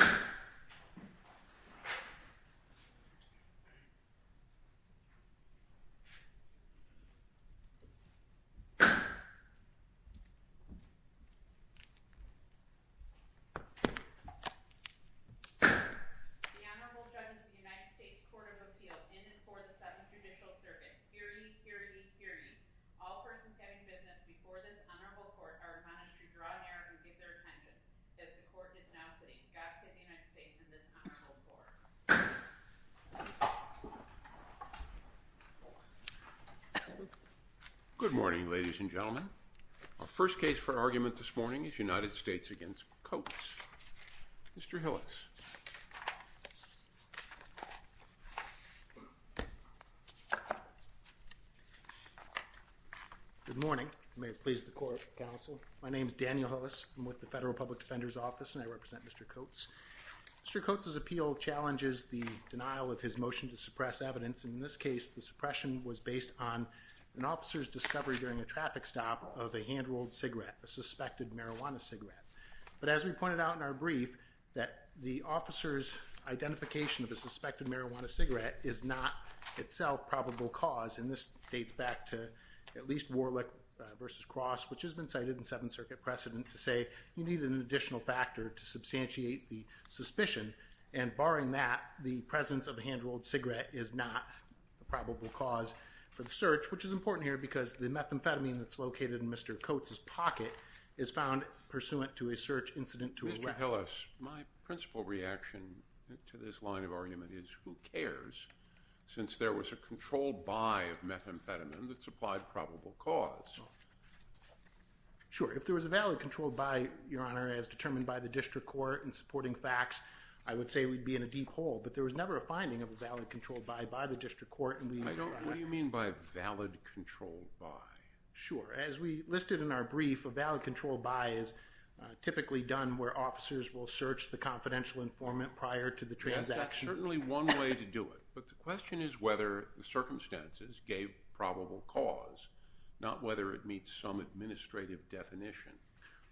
The Honorable Judges of the United States Court of Appeal in and for the Seventh Judicial Circuit. Hear ye, hear ye, hear ye. All persons having business before this honorable court are admonished to draw near and give their attention. As the court is now sitting, God save the United States and this honorable court. Good morning, ladies and gentlemen. Our first case for argument this morning is United States v. Coates. Mr. Hillis. Good morning. You may have pleased the court, counsel. My name is Daniel Hillis. I'm with the Federal Public Defender's Office, and I represent Mr. Coates. Mr. Coates' appeal challenges the denial of his motion to suppress evidence. In this case, the suppression was based on an officer's discovery during a traffic stop of a hand-rolled cigarette, a suspected marijuana cigarette. But as we pointed out in our brief, that the officer's identification of a suspected marijuana cigarette is not itself probable cause, and this dates back to at least Warlick v. Cross, which has been cited in Seventh Circuit precedent to say you need an additional factor to substantiate the suspicion. And barring that, the presence of a hand-rolled cigarette is not probable cause for the search, which is important here because the methamphetamine that's located in Mr. Coates' pocket is found pursuant to a search incident to arrest. Mr. Hillis, my principal reaction to this line of argument is who cares, since there was a controlled buy of methamphetamine that supplied probable cause. Sure. If there was a valid controlled buy, Your Honor, as determined by the district court in supporting facts, I would say we'd be in a deep hole. But there was never a finding of a valid controlled buy by the district court, and we— I don't—what do you mean by a valid controlled buy? Sure. As we listed in our brief, a valid controlled buy is typically done where officers will search the confidential informant prior to the transaction. There's certainly one way to do it, but the question is whether the circumstances gave probable cause, not whether it meets some administrative definition.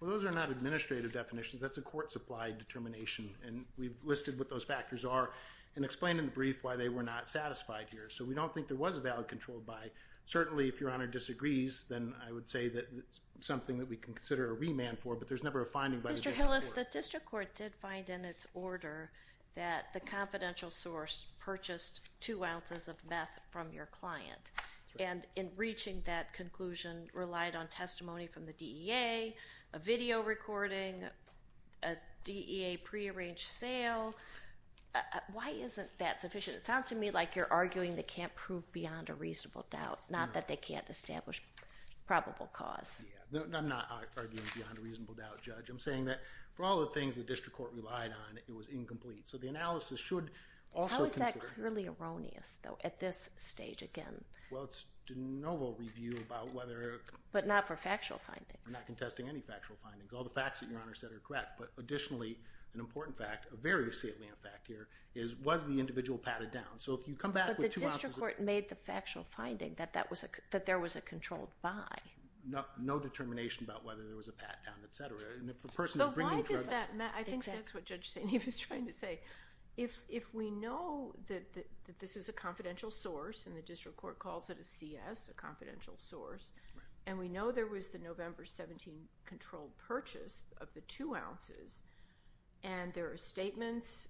Well, those are not administrative definitions. That's a court-supplied determination, and we've listed what those factors are and explained in the brief why they were not satisfied here. So we don't think there was a valid controlled buy. Certainly if Your Honor disagrees, then I would say that it's something that we can consider a remand for, but there's never a finding by the district court. The district court did find in its order that the confidential source purchased two ounces of meth from your client, and in reaching that conclusion relied on testimony from the DEA, a video recording, a DEA prearranged sale. Why isn't that sufficient? It sounds to me like you're arguing they can't prove beyond a reasonable doubt, not that they can't establish probable cause. Yeah. I'm not arguing beyond a reasonable doubt, Judge. I'm saying that for all the things the district court relied on, it was incomplete. So the analysis should also consider— How is that clearly erroneous, though, at this stage again? Well, it's de novo review about whether— But not for factual findings. We're not contesting any factual findings. All the facts that Your Honor said are correct, but additionally, an important fact, a very salient fact here, is was the individual patted down? So if you come back with two ounces— But the district court made the factual finding that there was a controlled buy. No determination about whether there was a pat down, et cetera, and if a person is bringing drugs— But why does that matter? I think that's what Judge St. Eve is trying to say. If we know that this is a confidential source, and the district court calls it a CS, a confidential source, and we know there was the November 17 controlled purchase of the two ounces, and there are statements,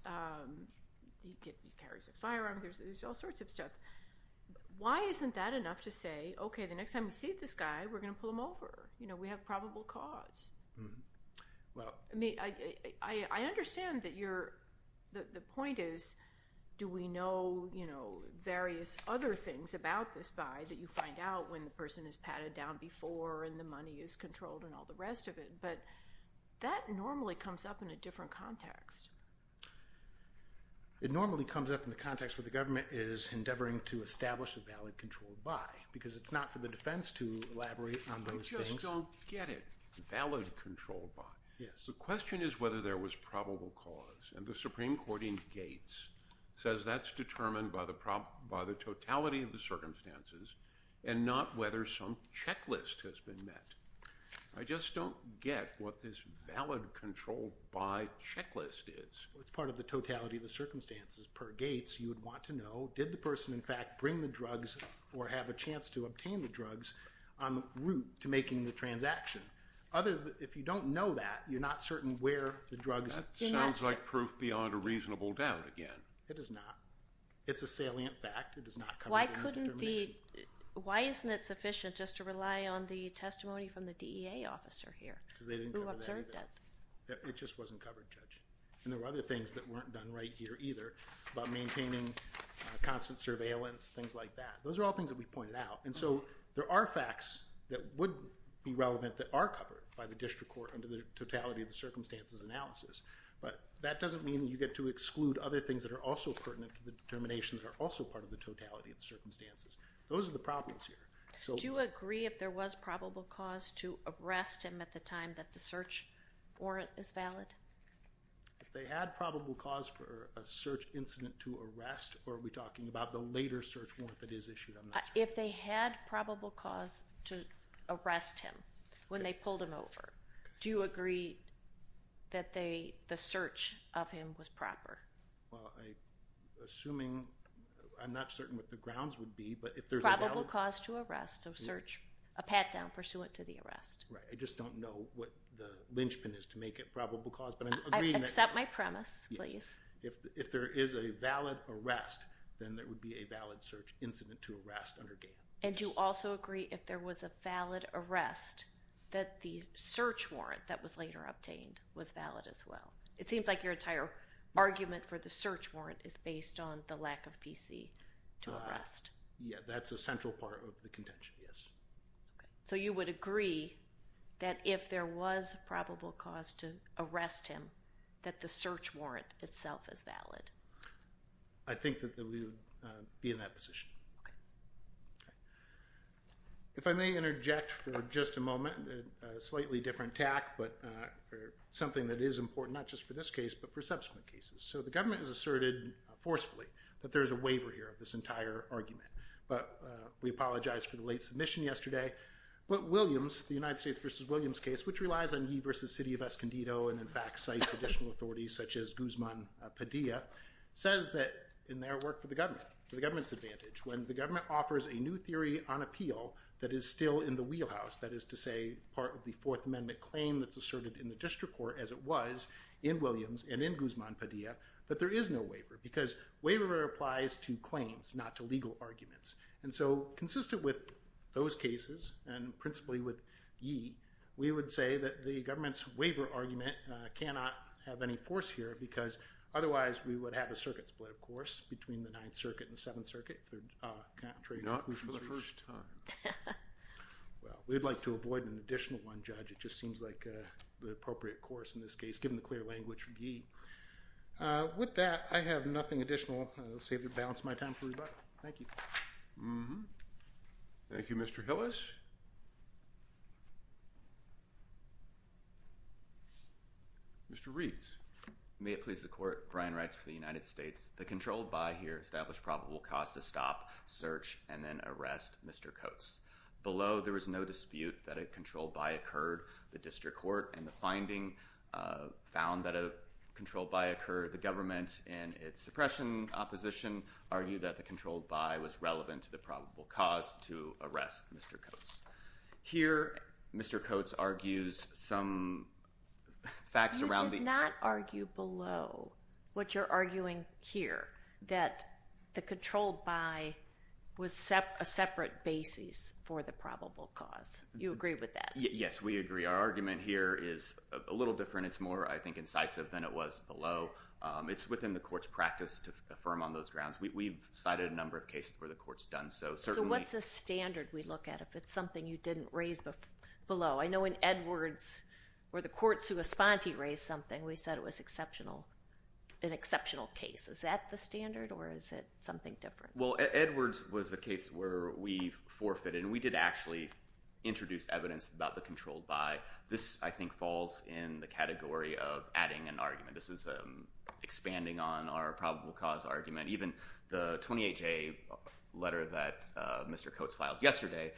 he carries a firearm, there's all sorts of stuff. Why isn't that enough to say, OK, the next time we see this guy, we're going to pull him over? You know, we have probable cause. Well— I mean, I understand that you're—the point is, do we know, you know, various other things about this buy that you find out when the person is patted down before and the money is controlled and all the rest of it, but that normally comes up in a different context. It normally comes up in the context where the government is endeavoring to establish a valid controlled buy, because it's not for the defense to elaborate on those things. I just don't get it. Valid controlled buy. Yes. The question is whether there was probable cause, and the Supreme Court in Gates says that's determined by the totality of the circumstances and not whether some checklist has been met. I just don't get what this valid controlled buy checklist is. Well, it's part of the totality of the circumstances. Per Gates, you would want to know, did the person in fact bring the drugs or have a chance to obtain the drugs on the route to making the transaction? Other—if you don't know that, you're not certain where the drugs— That sounds like proof beyond a reasonable doubt again. It is not. It's a salient fact. It does not come under determination. Why isn't it sufficient just to rely on the testimony from the DEA officer here? Because they didn't cover that either. Who observed that? It just wasn't covered, Judge. And there were other things that weren't done right here either about maintaining constant surveillance, things like that. Those are all things that we pointed out. And so there are facts that would be relevant that are covered by the district court under the totality of the circumstances analysis, but that doesn't mean you get to exclude other things that are also pertinent to the determination that are also part of the totality of the circumstances. Those are the problems here. Do you agree if there was probable cause to arrest him at the time that the search warrant is valid? If they had probable cause for a search incident to arrest, or are we talking about the later search warrant that is issued? If they had probable cause to arrest him when they pulled him over, do you agree that the search of him was proper? Well, assuming, I'm not certain what the grounds would be, but if there's a valid... Probable cause to arrest, so search, a pat-down pursuant to the arrest. Right. I just don't know what the linchpin is to make it probable cause, but I'm agreeing that... Accept my premise, please. If there is a valid arrest, then there would be a valid search incident to arrest under GAN. And do you also agree if there was a valid arrest that the search warrant that was later obtained was valid as well? It seems like your entire argument for the search warrant is based on the lack of PC to arrest. Yeah, that's a central part of the contention, yes. Okay. So you would agree that if there was probable cause to arrest him, that the search warrant itself is valid? I think that we would be in that position. Okay. Okay. If I may interject for just a moment, a slightly different tack, but something that is important, not just for this case, but for subsequent cases. So the government has asserted forcefully that there is a waiver here of this entire argument. But we apologize for the late submission yesterday. But Williams, the United States v. Williams case, which relies on he v. City of Escondido and in fact cites additional authorities such as Guzman Padilla, says that in their work for the government, for the government's advantage, when the government offers a new theory on appeal that is still in the wheelhouse, that is to say part of the Fourth Amendment claim that's asserted in the district court as it was in Williams and in Guzman Padilla, that there is no waiver. Because waiver applies to claims, not to legal arguments. And so consistent with those cases, and principally with Yee, we would say that the government's waiver argument cannot have any force here, because otherwise we would have a circuit split, of course, between the Ninth Circuit and the Seventh Circuit, if they're contrary conclusions. Not for the first time. Well, we'd like to avoid an additional one, Judge. It just seems like the appropriate course in this case, given the clear language from Yee. With that, I have nothing additional. I'll save the balance of my time for rebuttal. Thank you. Thank you, Mr. Hillis. Mr. Reitz. May it please the Court, Brian Reitz for the United States. The controlled by here established probable cause to stop, search, and then arrest Mr. Coates. Below, there was no dispute that a controlled by occurred. The district court, in the finding, found that a controlled by occurred. The government, in its suppression opposition, argued that the controlled by was relevant to the probable cause to arrest Mr. Coates. Here, Mr. Coates argues some facts around the— Below, what you're arguing here, that the controlled by was a separate basis for the probable cause. You agree with that? Yes, we agree. Our argument here is a little different. It's more, I think, incisive than it was below. It's within the Court's practice to affirm on those grounds. We've cited a number of cases where the Court's done so. So, what's the standard we look at if it's something you didn't raise below? I know in Edwards, where the courts who respond to you raise something, we said it was an exceptional case. Is that the standard, or is it something different? Well, Edwards was a case where we forfeited, and we did actually introduce evidence about the controlled by. This, I think, falls in the category of adding an argument. This is expanding on our probable cause argument. Even the 28-J letter that Mr. Coates filed yesterday,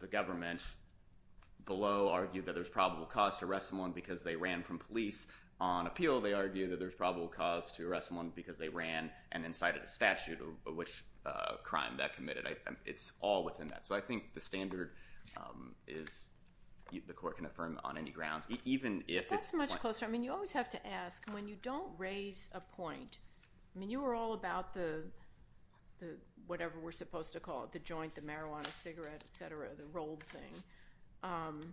the government below argued that there's probable cause to arrest someone because they ran from police. On appeal, they argued that there's probable cause to arrest someone because they ran and then cited a statute of which crime that committed. It's all within that. So, I think the standard is the Court can affirm on any grounds, even if it's— That's much closer. I mean, you always have to ask, when you don't raise a point—I mean, you were all about the whatever we're supposed to call it, the joint, the marijuana, cigarette, et cetera, the rolled thing.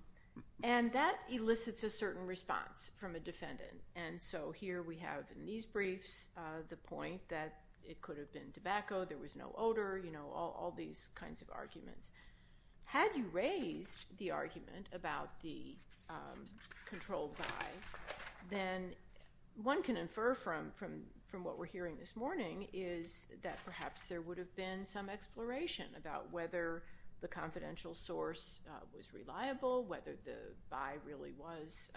And that elicits a certain response from a defendant. And so, here we have in these briefs the point that it could have been tobacco, there was no odor, all these kinds of arguments. Had you raised the argument about the controlled buy, then one can infer from what we're hearing this morning is that perhaps there would have been some exploration about whether the confidential source was reliable, whether the buy really was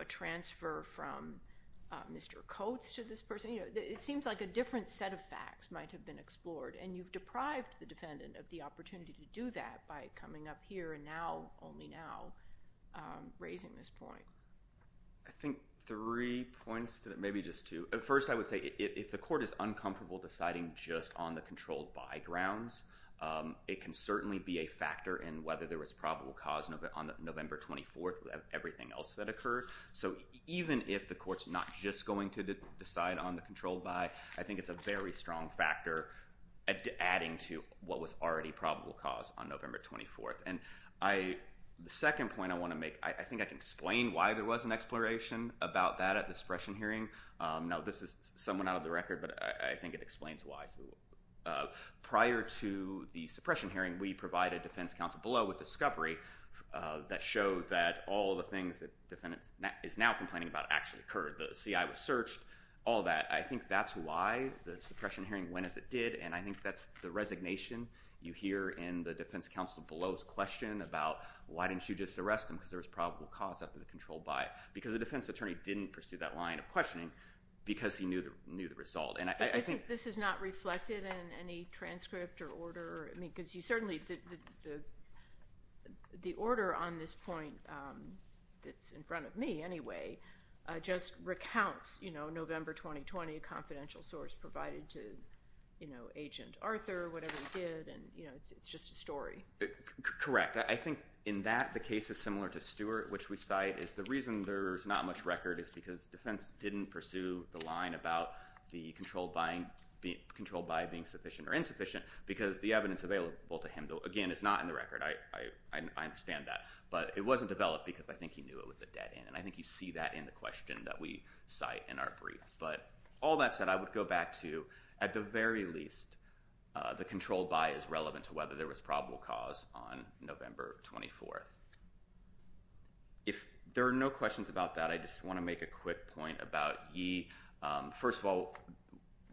a transfer from Mr. Coates to this person. It seems like a different set of facts might have been explored. And you've deprived the defendant of the opportunity to do that by coming up here and now, only now, raising this point. I think three points, maybe just two. First, I would say, if the Court is uncomfortable deciding just on the controlled buy grounds, it can certainly be a factor in whether there was probable cause on November 24th with everything else that occurred. So, even if the Court's not just going to decide on the controlled buy, I think it's a very strong factor adding to what was already probable cause on November 24th. And the second point I want to make, I think I can explain why there was an exploration about that at the suppression hearing. Now, this is someone out of the record, but I think it explains why. Prior to the suppression hearing, we provided defense counsel below with discovery that showed that all the things that the defendant is now complaining about actually occurred. The CI was searched, all that. I think that's why the suppression hearing went as it did, and I think that's the resignation you hear in the defense counsel below's question about, why didn't you just arrest him because there was probable cause after the controlled buy? Because the defense attorney didn't pursue that line of questioning because he knew the result. And I think— But this is not reflected in any transcript or order? I mean, because you certainly—the order on this point, that's in front of me anyway, just recounts November 2020, a confidential source provided to Agent Arthur, whatever he did, and it's just a story. Correct. I think in that, the case is similar to Stewart, which we cite is the reason there's not much record is because defense didn't pursue the line about the controlled buy being sufficient or insufficient because the evidence available to him, again, is not in the record. I understand that. But it wasn't developed because I think he knew it was a dead end. And I think you see that in the question that we cite in our brief. But all that said, I would go back to, at the very least, the controlled buy is relevant to whether there was probable cause on November 24th. If there are no questions about that, I just want to make a quick point about ye. First of all,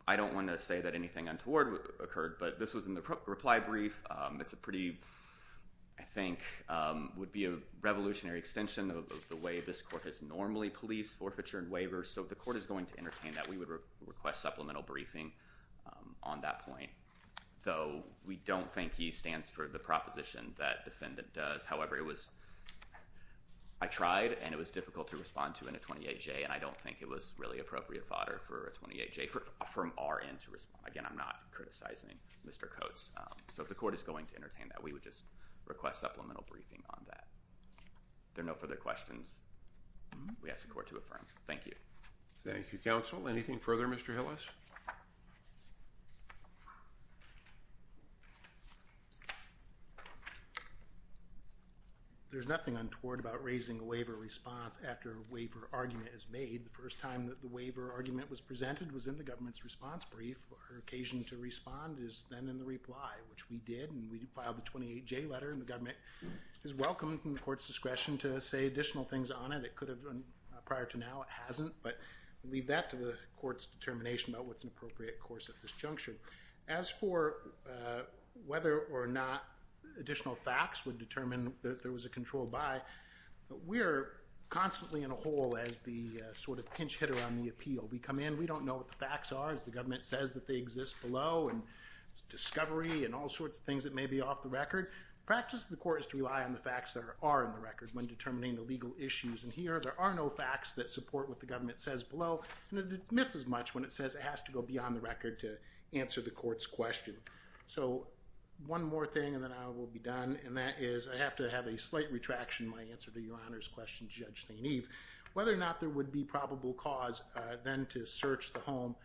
I don't want to say that anything untoward occurred, but this was in the reply brief. It's a pretty, I think, would be a revolutionary extension of the way this court has normally policed forfeiture and waivers. So if the court is going to entertain that, we would request supplemental briefing on that point. Though, we don't think he stands for the proposition that defendant does. However, I tried, and it was difficult to respond to in a 28-J. And I don't think it was really appropriate fodder for a 28-J from our end to respond. Again, I'm not criticizing Mr. Coates. So if the court is going to entertain that, we would just request supplemental briefing on that. If there are no further questions, we ask the court to affirm. Thank you. Thank you, counsel. Anything further, Mr. Hillis? There's nothing untoward about raising a waiver response after a waiver argument is made. The first time that the waiver argument was presented was in the government's response brief. Her occasion to respond is then in the reply, which we did. And we filed the 28-J letter. And the government is welcome, from the court's discretion, to say additional things on it. It could have been prior to now. It hasn't. But we leave that to the court's determination about what's an appropriate course of disjunction. As for whether or not additional facts would determine that there was a control by, we're constantly in a hole as the sort of pinch hitter on the appeal. We come in. We don't know what the facts are. As the government says that they exist below, and discovery, and all sorts of things that may be off the record. The practice of the court is to rely on the facts that are in the record when determining the legal issues. And here, there are no facts that support what the government says below. And it admits as much when it says it has to go beyond the record to answer the court's question. So one more thing, and then I will be done. And that is I have to have a slight retraction in my answer to Your Honor's question, Judge St. Eve. Whether or not there would be probable cause then to search the home,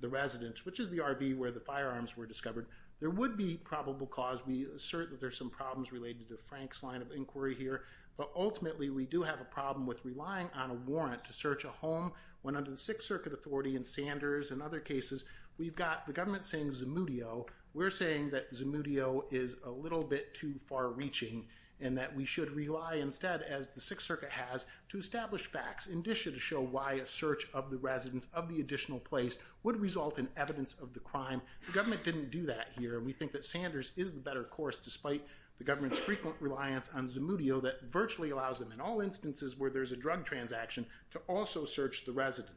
the residence, which is the RV where the firearms were discovered, there would be probable cause. We assert that there's some problems related to Frank's line of inquiry here. But ultimately, we do have a problem with relying on a warrant to search a home when under the Sixth Circuit Authority and Sanders and other cases, we've got the government saying Zemudio. We're saying that Zemudio is a little bit too far reaching and that we should rely instead as the Sixth Circuit has to establish facts in addition to show why a search of the residence, of the additional place, would result in evidence of the crime. The government didn't do that here. And we think that Sanders is the better course despite the government's frequent reliance on Zemudio that virtually allows him in all instances where there's a drug transaction to also search the resident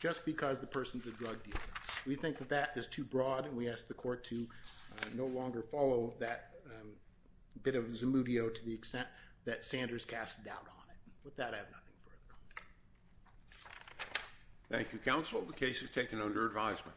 just because the person's a drug dealer. We think that that is too broad and we ask the court to no longer follow that bit of With that, I have nothing further. Thank you, Counsel. The case is taken under advisement.